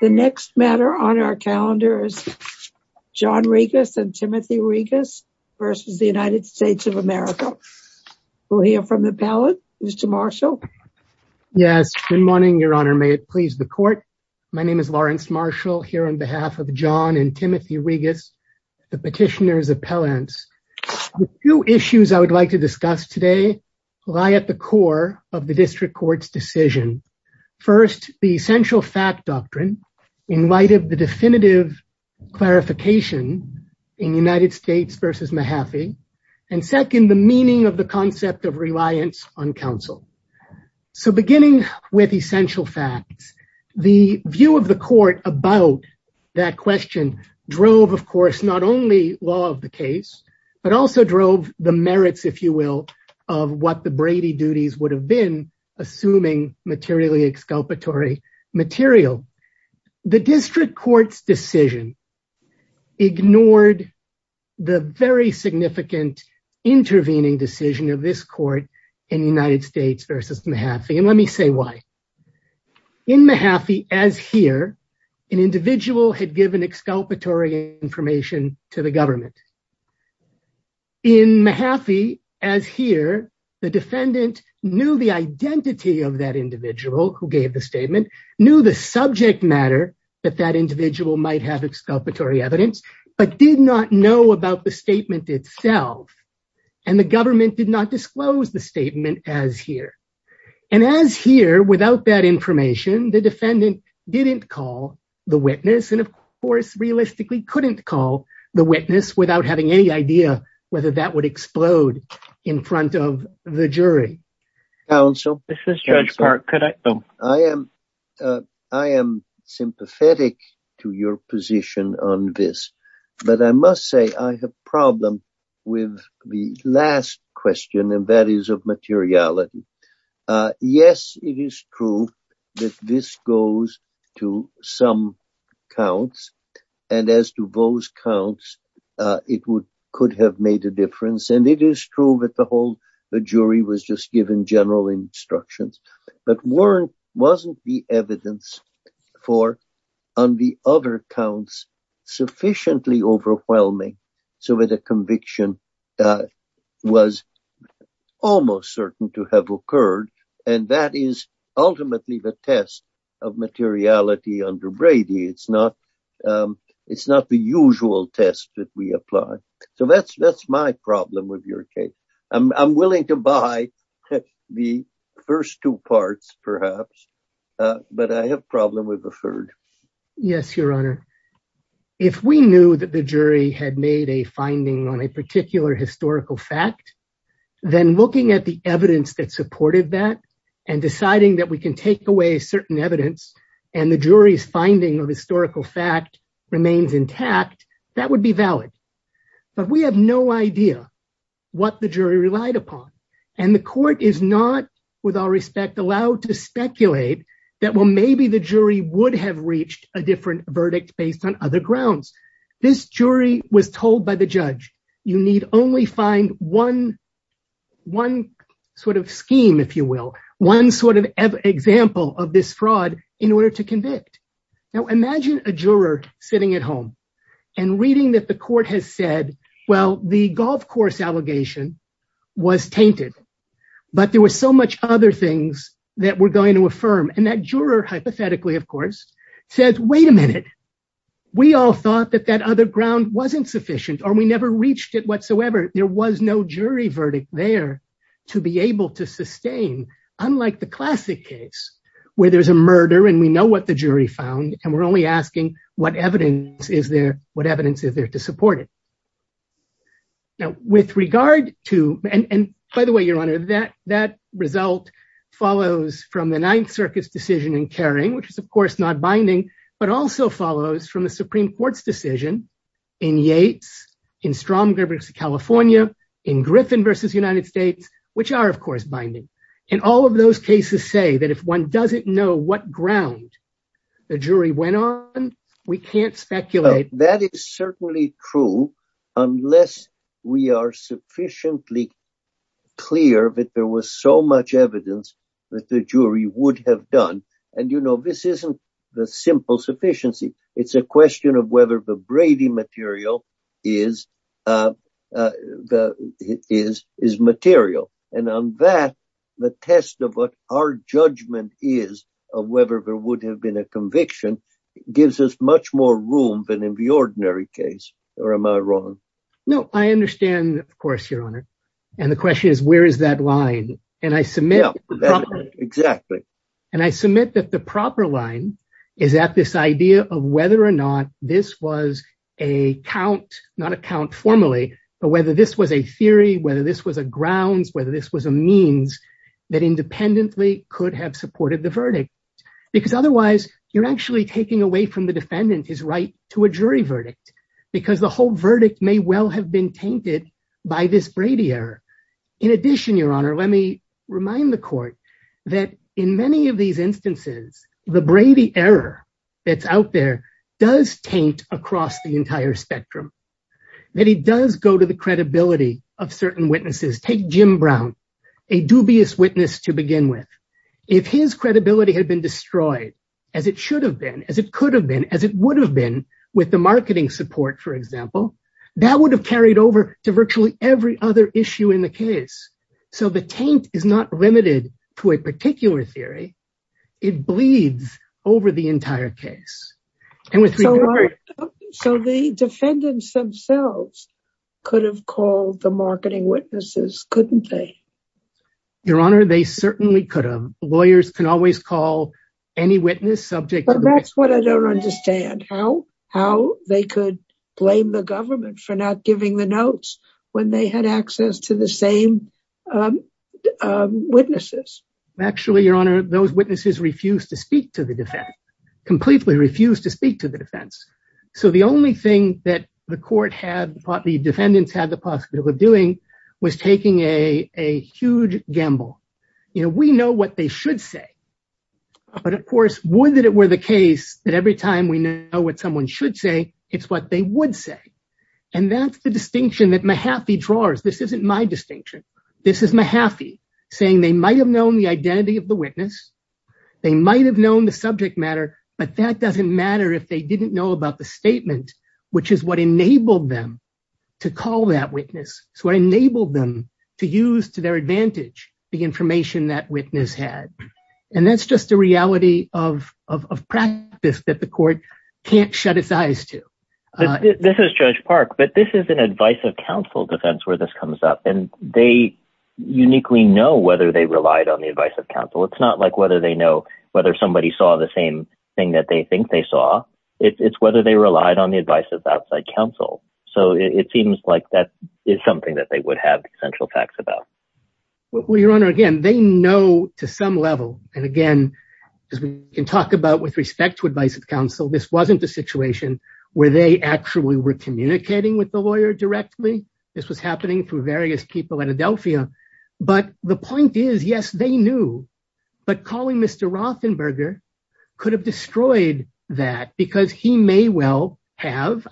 The next matter on our calendar is John Regas and Timothy Regas versus the United States of America. We'll hear from the appellant, Mr. Marshall. Yes, good morning, your honor. May it please the court. My name is Lawrence Marshall here on behalf of John and Timothy Regas, the petitioner's appellants. The two issues I would like to discuss today lie at the core of the district court's in light of the definitive clarification in United States versus Mahaffey and second, the meaning of the concept of reliance on counsel. So beginning with essential facts, the view of the court about that question drove, of course, not only law of the case, but also drove the merits, if you will, of what the Brady duties would have been assuming materially exculpatory material. The district court's decision ignored the very significant intervening decision of this court in United States versus Mahaffey and let me say why. In Mahaffey, as here, an individual had given exculpatory information to the government. In Mahaffey, as here, the defendant knew the identity of that individual who gave the statement, knew the subject matter that that individual might have exculpatory evidence, but did not know about the statement itself and the government did not disclose the statement as here. And as here, without that information, the defendant didn't call the witness and, of course, realistically couldn't call the witness without having any idea whether that would explode in front of the jury. Counsel, this is Judge Clark. I am sympathetic to your position on this, but I must say I have problem with the last question and that is of materiality. Yes, it is true that this goes to some counts and as to those counts, it could have made a difference and it is true that the whole the jury was just given general instructions, but wasn't the evidence for on the other counts sufficiently overwhelming so that a conviction was almost certain to have occurred and that is it's not the usual test that we apply. So, that's my problem with your case. I'm willing to buy the first two parts, perhaps, but I have problem with the third. Yes, Your Honor. If we knew that the jury had made a finding on a particular historical fact, then looking at the evidence that supported that and deciding that we can take away certain evidence and the jury's finding of historical fact remains intact, that would be valid, but we have no idea what the jury relied upon and the court is not, with all respect, allowed to speculate that, well, maybe the jury would have reached a different verdict based on other grounds. This jury was told by the judge, you need only find one sort of scheme, if you will, one sort of example of this fraud in order to convict. Now, imagine a juror sitting at home and reading that the court has said, well, the golf course allegation was tainted, but there were so much other things that we're going to affirm and that juror, hypothetically, of course, says, wait a minute, we all thought that other ground wasn't sufficient or we never reached it whatsoever. There was no jury verdict there to be able to sustain, unlike the classic case where there's a murder and we know what the jury found and we're only asking what evidence is there, what evidence is there to support it. Now, with regard to, and by the way, Your Honor, that result follows from the Ninth Circuit's which is, of course, not binding, but also follows from the Supreme Court's decision in Yates, in Stromberg's California, in Griffin versus United States, which are, of course, binding. And all of those cases say that if one doesn't know what ground the jury went on, we can't speculate. That is certainly true, unless we are sufficiently clear that there was so much evidence that the jury would have done. And, you know, this isn't the simple sufficiency. It's a question of whether the Brady material is material. And on that, the test of what our judgment is of whether there would have been a conviction gives us much more room than in the ordinary case. Or am I wrong? No, I understand, of course, Your Honor. And the question is, where is that line? And I submit that the proper line is at this idea of whether or not this was a count, not a count formally, but whether this was a theory, whether this was a grounds, whether this was a means that independently could have supported the verdict. Because otherwise, you're actually taking away from the defendant his right to a jury verdict, because the whole verdict may well have been tainted by this Brady error. In addition, Your Honor, let me remind the court that in many of these instances, the Brady error that's out there does taint across the entire spectrum, that he does go to the credibility of certain witnesses. Take Jim Brown, a dubious witness to begin with. If his credibility had been destroyed, as it should have been, as it could for example, that would have carried over to virtually every other issue in the case. So the taint is not limited to a particular theory. It bleeds over the entire case. So the defendants themselves could have called the marketing witnesses, couldn't they? Your Honor, they certainly could have. Lawyers can always call any witness subject. That's what I don't understand how they could blame the government for not giving the notes when they had access to the same witnesses. Actually, Your Honor, those witnesses refused to speak to the defense, completely refused to speak to the defense. So the only thing that the court had, the defendants had the possibility of doing was taking a huge gamble. You know, we know what they should say. But of course, would that it were the case that every time we know what someone should say, it's what they would say. And that's the distinction that Mahaffey draws. This isn't my distinction. This is Mahaffey saying they might have known the identity of the witness. They might have known the subject matter, but that doesn't matter if they didn't know about the statement, which is what enabled them to call that witness. It's what enabled them to use to advantage the information that witness had. And that's just a reality of practice that the court can't shut its eyes to. This is Judge Park, but this is an advice of counsel defense where this comes up. And they uniquely know whether they relied on the advice of counsel. It's not like whether they know whether somebody saw the same thing that they think they saw. It's whether they relied on the advice of outside counsel. So it seems like that is something that they would have essential facts about. Well, Your Honor, again, they know to some level. And again, as we can talk about with respect to advice of counsel, this wasn't a situation where they actually were communicating with the lawyer directly. This was happening through various people at Adelphia. But the point is, yes, they knew. But calling Mr. Rothenberger could have destroyed that because he may well have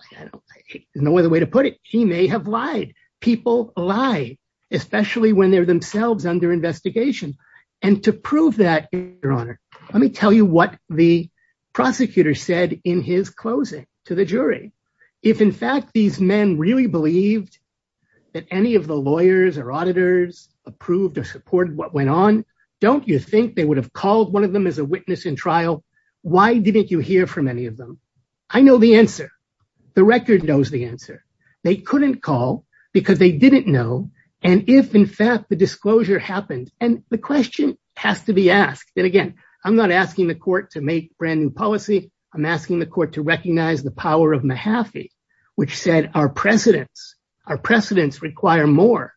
no other way to put it. He may have lied. People lie, especially when they're themselves under investigation. And to prove that, Your Honor, let me tell you what the prosecutor said in his closing to the jury. If, in fact, these men really believed that any of the lawyers or auditors approved or supported what went on, don't you think they would have called one of them as a witness in trial? Why didn't you hear from any of them? I know the answer. The record knows the answer. They couldn't call because they didn't know. And if, in fact, the disclosure happened, and the question has to be asked. And again, I'm not asking the court to make brand new policy. I'm asking the court to recognize the power of Mahaffey, which said our precedents, our precedents require more.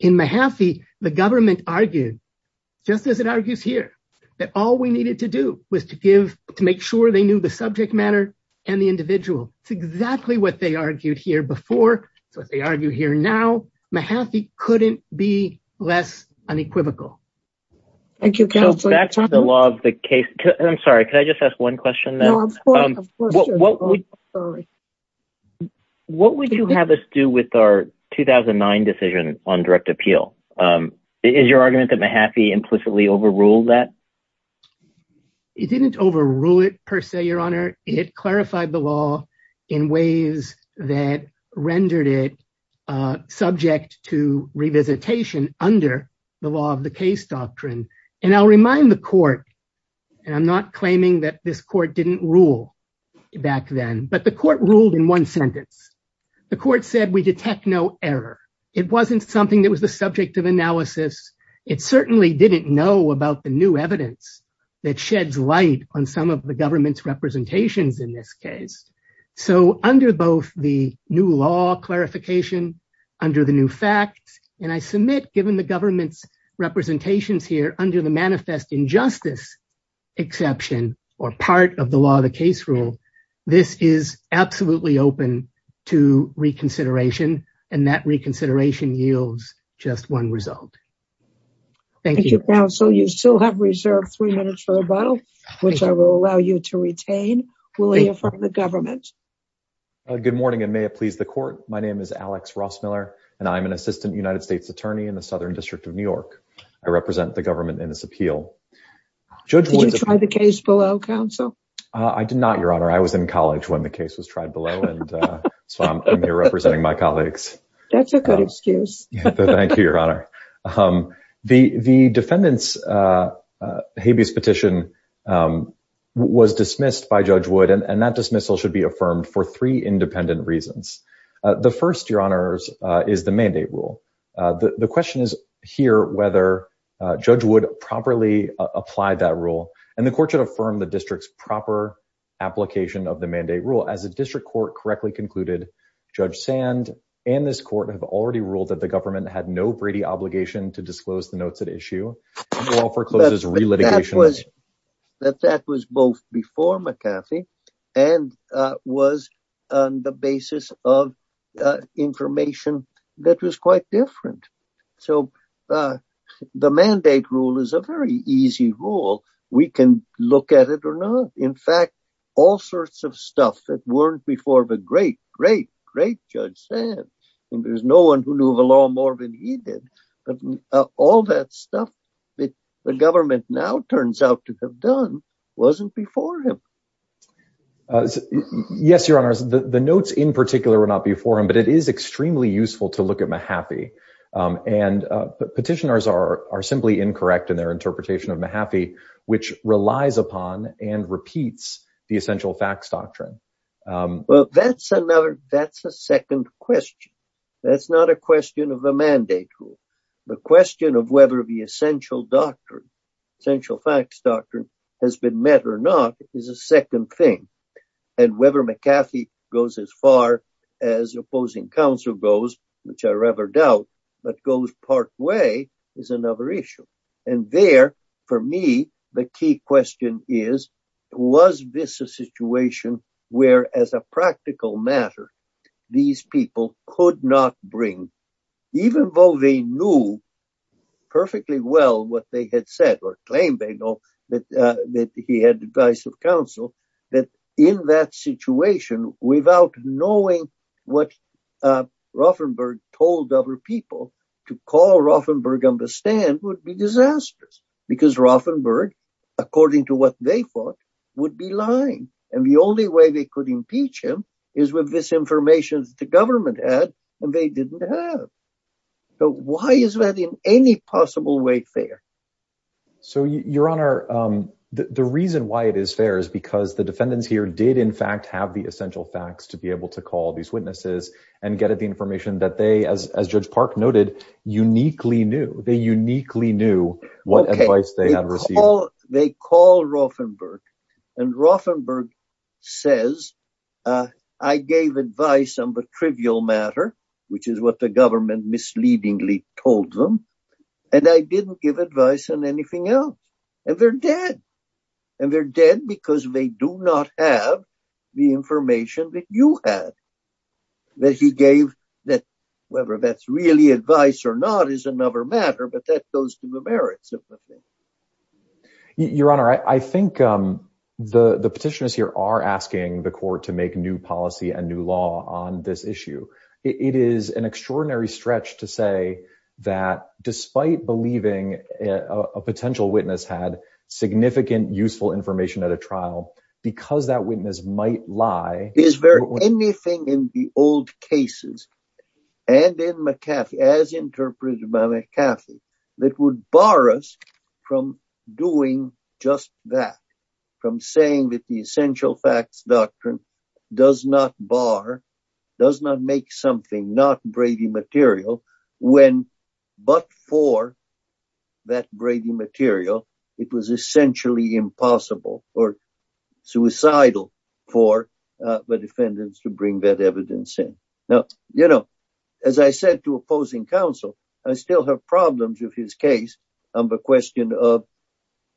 In Mahaffey, the government argued, just as it argues here, that all we needed to do was to give, to make sure they knew the subject matter and the individual. It's exactly what they argued here before. It's what they argue here now. Mahaffey couldn't be less unequivocal. Thank you, counsel. Back to the law of the case. I'm sorry, could I just ask one question? What would you have us do with our 2009 decision on direct appeal? Is your argument that implicitly overruled that? It didn't overrule it, per se, your honor. It clarified the law in ways that rendered it subject to revisitation under the law of the case doctrine. And I'll remind the court, and I'm not claiming that this court didn't rule back then, but the court ruled in one sentence. The court said we detect no error. It wasn't something that was the subject of analysis. It certainly didn't know about the new evidence that sheds light on some of the government's representations in this case. So under both the new law clarification, under the new facts, and I submit, given the government's representations here under the manifest injustice exception, or part of the law of the case rule, this is just one result. Thank you, counsel. You still have reserved three minutes for rebuttal, which I will allow you to retain. We'll hear from the government. Good morning, and may it please the court. My name is Alex Rossmiller, and I'm an assistant United States attorney in the Southern District of New York. I represent the government in this appeal. Did you try the case below, counsel? I did not, your honor. I was in college when the case was tried below, and so I'm here representing my colleagues. That's a good thank you, your honor. The defendant's habeas petition was dismissed by Judge Wood, and that dismissal should be affirmed for three independent reasons. The first, your honors, is the mandate rule. The question is here whether Judge Wood properly applied that rule, and the court should affirm the district's proper application of the mandate rule. As the district court correctly concluded, Judge Sand and this court have already ruled that the government had no Brady obligation to disclose the notes at issue, and the law forecloses re-litigation. But that was both before McCarthy and was on the basis of information that was quite different. So the mandate rule is a very easy rule. We can look at it or not. In fact, all sorts of great, great, great Judge Sand, and there's no one who knew the law more than he did, but all that stuff that the government now turns out to have done wasn't before him. Yes, your honors. The notes in particular were not before him, but it is extremely useful to look at Mahaffey, and petitioners are simply incorrect in their interpretation of Mahaffey, which relies upon and repeats the essential facts doctrine. Well, that's another, that's a second question. That's not a question of the mandate rule. The question of whether the essential doctrine, essential facts doctrine, has been met or not is a second thing. And whether McCarthy goes as far as opposing counsel goes, which I rather doubt, but goes part way, is another issue. And there, for me, the key question is, was this a situation where, as a practical matter, these people could not bring, even though they knew perfectly well what they had said, or claimed they know, that he had advised of counsel, that in that situation, without knowing what Ruffenberg told other people, to call Ruffenberg on the stand would be disastrous. Because Ruffenberg, according to what they thought, would be lying. And the only way they could impeach him is with this information that the government had, and they didn't have. So why is that in any possible way fair? So, your honor, the reason why it is fair is because the defendants here did, in fact, have the essential facts to be able to call these witnesses and get at the information that they, as Judge Park noted, uniquely knew. They uniquely knew what advice they had received. They call Ruffenberg, and Ruffenberg says, I gave advice on the trivial matter, which is what the government misleadingly told them, and I didn't give advice on anything else. And they're dead. And they're dead because they do not have the information that you had, that he gave, that whether that's really advice or not is another matter, but that goes to the merits of the thing. Your honor, I think the petitioners here are asking the court to make new policy and new law on this issue. It is an extraordinary stretch to say that despite believing a potential witness had significant useful information at a trial, because that witness might lie. Is there anything in the old cases, and in McCarthy, as interpreted by McCarthy, that would bar us from doing just that, from saying that the essential facts doctrine does not bar, does not make something not Brady material, when but for that Brady material, it was essentially impossible or suicidal for the defendants to bring that evidence in. Now, you know, as I said to opposing counsel, I still have problems with his case on the question of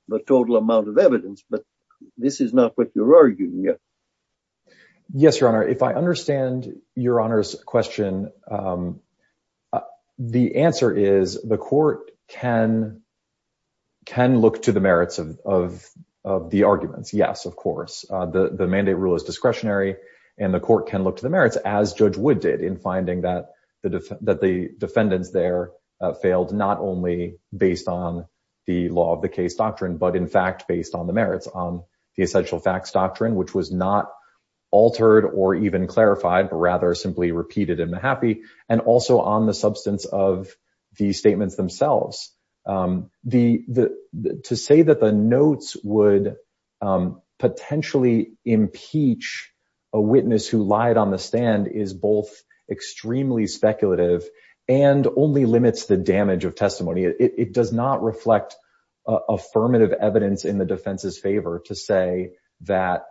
the total amount of evidence, but this is not what you're arguing yet. Yes, your honor, if I understand your honor's question, the answer is the court can look to the merits of the arguments. Yes, of course, the mandate rule is discretionary, and the court can look to the merits as Judge Wood did in Madison, but the defendants there failed not only based on the law of the case doctrine, but in fact, based on the merits on the essential facts doctrine, which was not altered or even clarified, but rather simply repeated in the happy and also on the substance of the statements themselves. To say that the notes would potentially impeach a witness who is not only speculative, and only limits the damage of testimony, it does not reflect affirmative evidence in the defense's favor to say that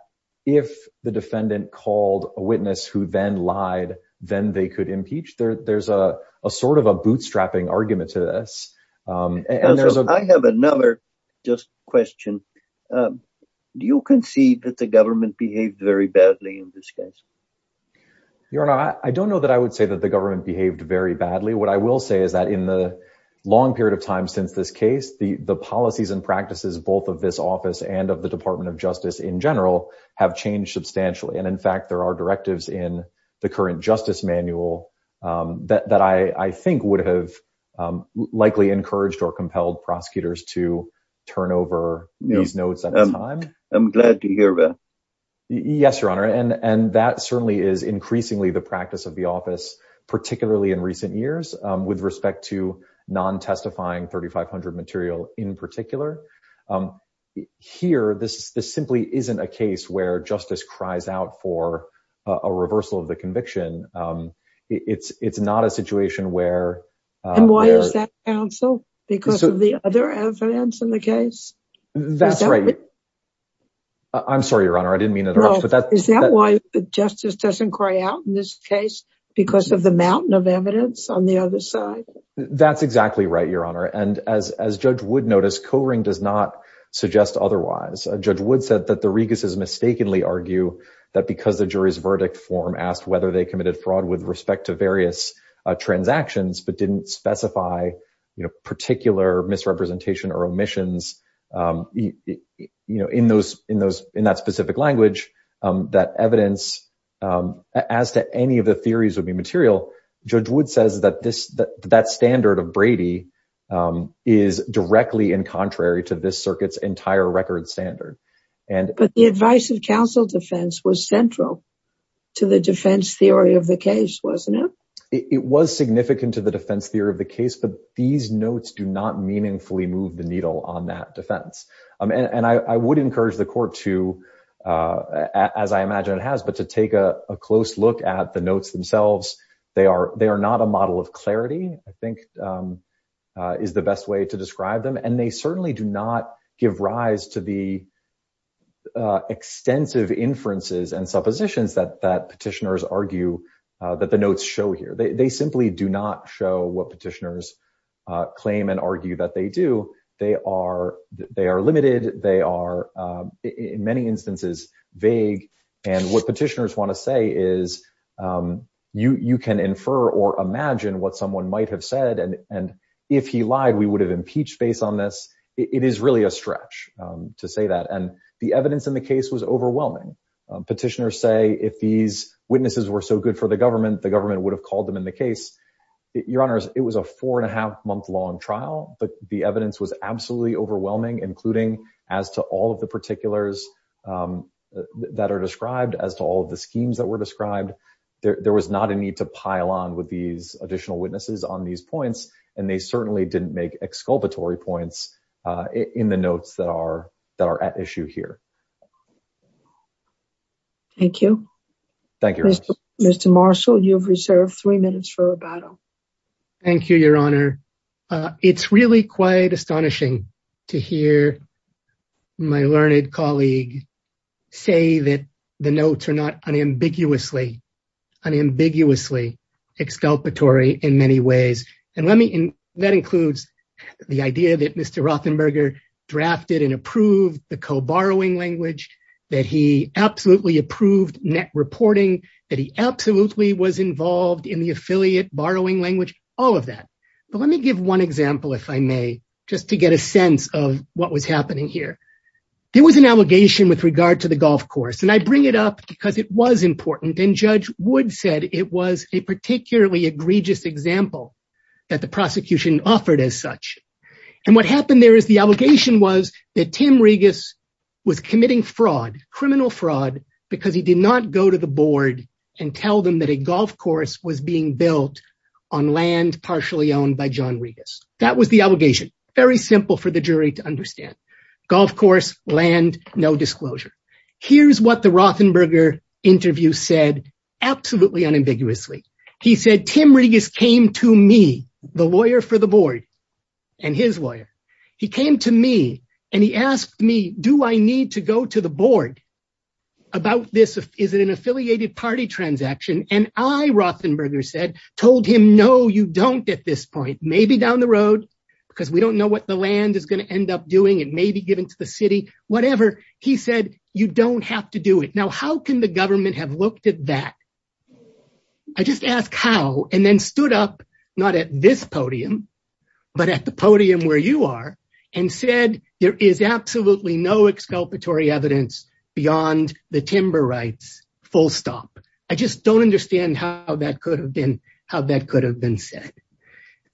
if the defendant called a witness who then lied, then they could impeach there, there's a sort of a bootstrapping argument to this. I have another just question. Do you concede that the government behaved very badly in this case? Your honor, I don't know that I would say that the government behaved very badly. What I will say is that in the long period of time since this case, the policies and practices both of this office and of the Department of Justice in general have changed substantially. And in fact, there are directives in the current justice manual that I think would have likely encouraged or compelled prosecutors to turn over these notes at a time. I'm glad to hear that. Yes, your honor, and that certainly is increasingly the practice of the office, particularly in recent years with respect to non-testifying 3500 material in particular. Here, this simply isn't a case where justice cries out for a reversal of the conviction. It's not a situation where... And why is that counsel? Because of the other evidence in the case? That's right. I'm sorry, your honor, I didn't mean it Is that why the justice doesn't cry out in this case? Because of the mountain of evidence on the other side? That's exactly right, your honor. And as Judge Wood noticed, Coring does not suggest otherwise. Judge Wood said that the Reguses mistakenly argue that because the jury's verdict form asked whether they committed fraud with respect to various transactions but didn't specify particular misrepresentation or omissions in that specific language, that evidence as to any of the theories would be material. Judge Wood says that that standard of Brady is directly in contrary to this circuit's entire record standard. But the advice of counsel defense was central to the defense theory of the case, wasn't it? It was significant to the defense theory of the case, but these notes do not meaningfully move the needle on that defense. And I would encourage the court to, as I imagine it has, but to take a close look at the notes themselves. They are not a model of clarity, I think is the best way to describe them. And they certainly do not give rise to the extensive inferences and suppositions that petitioners argue that the notes show here. They simply do not show what petitioners claim and argue that they are limited. They are in many instances vague. And what petitioners want to say is you can infer or imagine what someone might have said. And if he lied, we would have impeached based on this. It is really a stretch to say that. And the evidence in the case was overwhelming. Petitioners say if these witnesses were so good for the government, the government would have long trial. But the evidence was absolutely overwhelming, including as to all of the particulars that are described, as to all of the schemes that were described. There was not a need to pile on with these additional witnesses on these points. And they certainly didn't make exculpatory points in the notes that are at issue here. Thank you. Thank you. Mr. Marshall, you have reserved three minutes for rebuttal. Thank you, Your Honor. It's really quite astonishing to hear my learned colleague say that the notes are not unambiguously, unambiguously exculpatory in many ways. And that includes the idea that Mr. Rothenberger drafted and approved the co-borrowing language, that he absolutely approved net reporting, that he absolutely was involved in the affiliate borrowing language, all of that. But let me give one example, if I may, just to get a sense of what was happening here. There was an allegation with regard to the golf course. And I bring it up because it was important. And Judge Wood said it was a particularly egregious example that the prosecution offered as such. And what happened there is the allegation was that Tim Regas was committing fraud, criminal fraud, because he did not go to the board and tell them that a golf course was being built on land partially owned by John Regas. That was the allegation. Very simple for the jury to understand. Golf course, land, no disclosure. Here's what the Rothenberger interview said absolutely unambiguously. He said, Tim Regas came to me, the lawyer for the board, and his lawyer, he came to me and he asked me, do I need to go to the board about this? Is it an affiliated party transaction? And I, Rothenberger said, told him, no, you don't at this point. Maybe down the road, because we don't know what the land is going to end up doing. It may be given to the city, whatever. He said, you don't have to do it. Now, how can the government have looked at that? I just asked how, and then stood up, not at this podium, but at the podium where you are, and said, there is absolutely no exculpatory evidence beyond the timber rights, full stop. I just don't understand how that could have been said.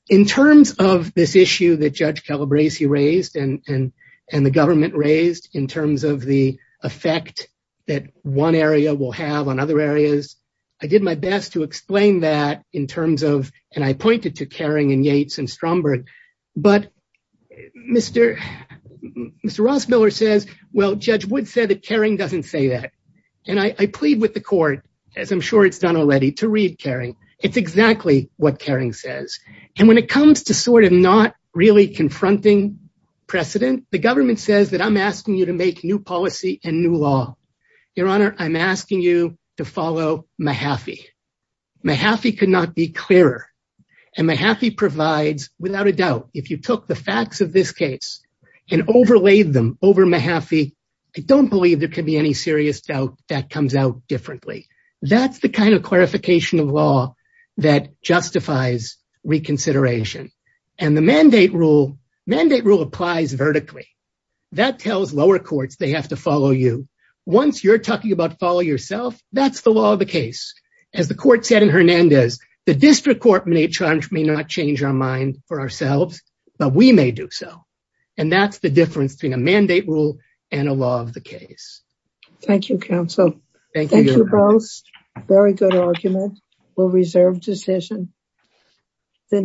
In terms of this issue that Judge Calabresi raised and the government raised in terms of the effect that one area will have on other areas, I did my best to explain that in terms of, and I pointed to Caring and Yates and Mr. Ross Miller says, well, Judge Wood said that Caring doesn't say that. And I plead with the court, as I'm sure it's done already, to read Caring. It's exactly what Caring says. And when it comes to sort of not really confronting precedent, the government says that I'm asking you to make new policy and new law. Your Honor, I'm asking you to follow Mahaffey. Mahaffey could be clearer. And Mahaffey provides, without a doubt, if you took the facts of this case and overlaid them over Mahaffey, I don't believe there could be any serious doubt that comes out differently. That's the kind of clarification of law that justifies reconsideration. And the mandate rule applies vertically. That tells lower courts they have to follow you. Once you're set in Hernandez, the district court may not change our mind for ourselves, but we may do so. And that's the difference between a mandate rule and a law of the case. Thank you, counsel. Thank you both. Very good argument. We'll reserve decision.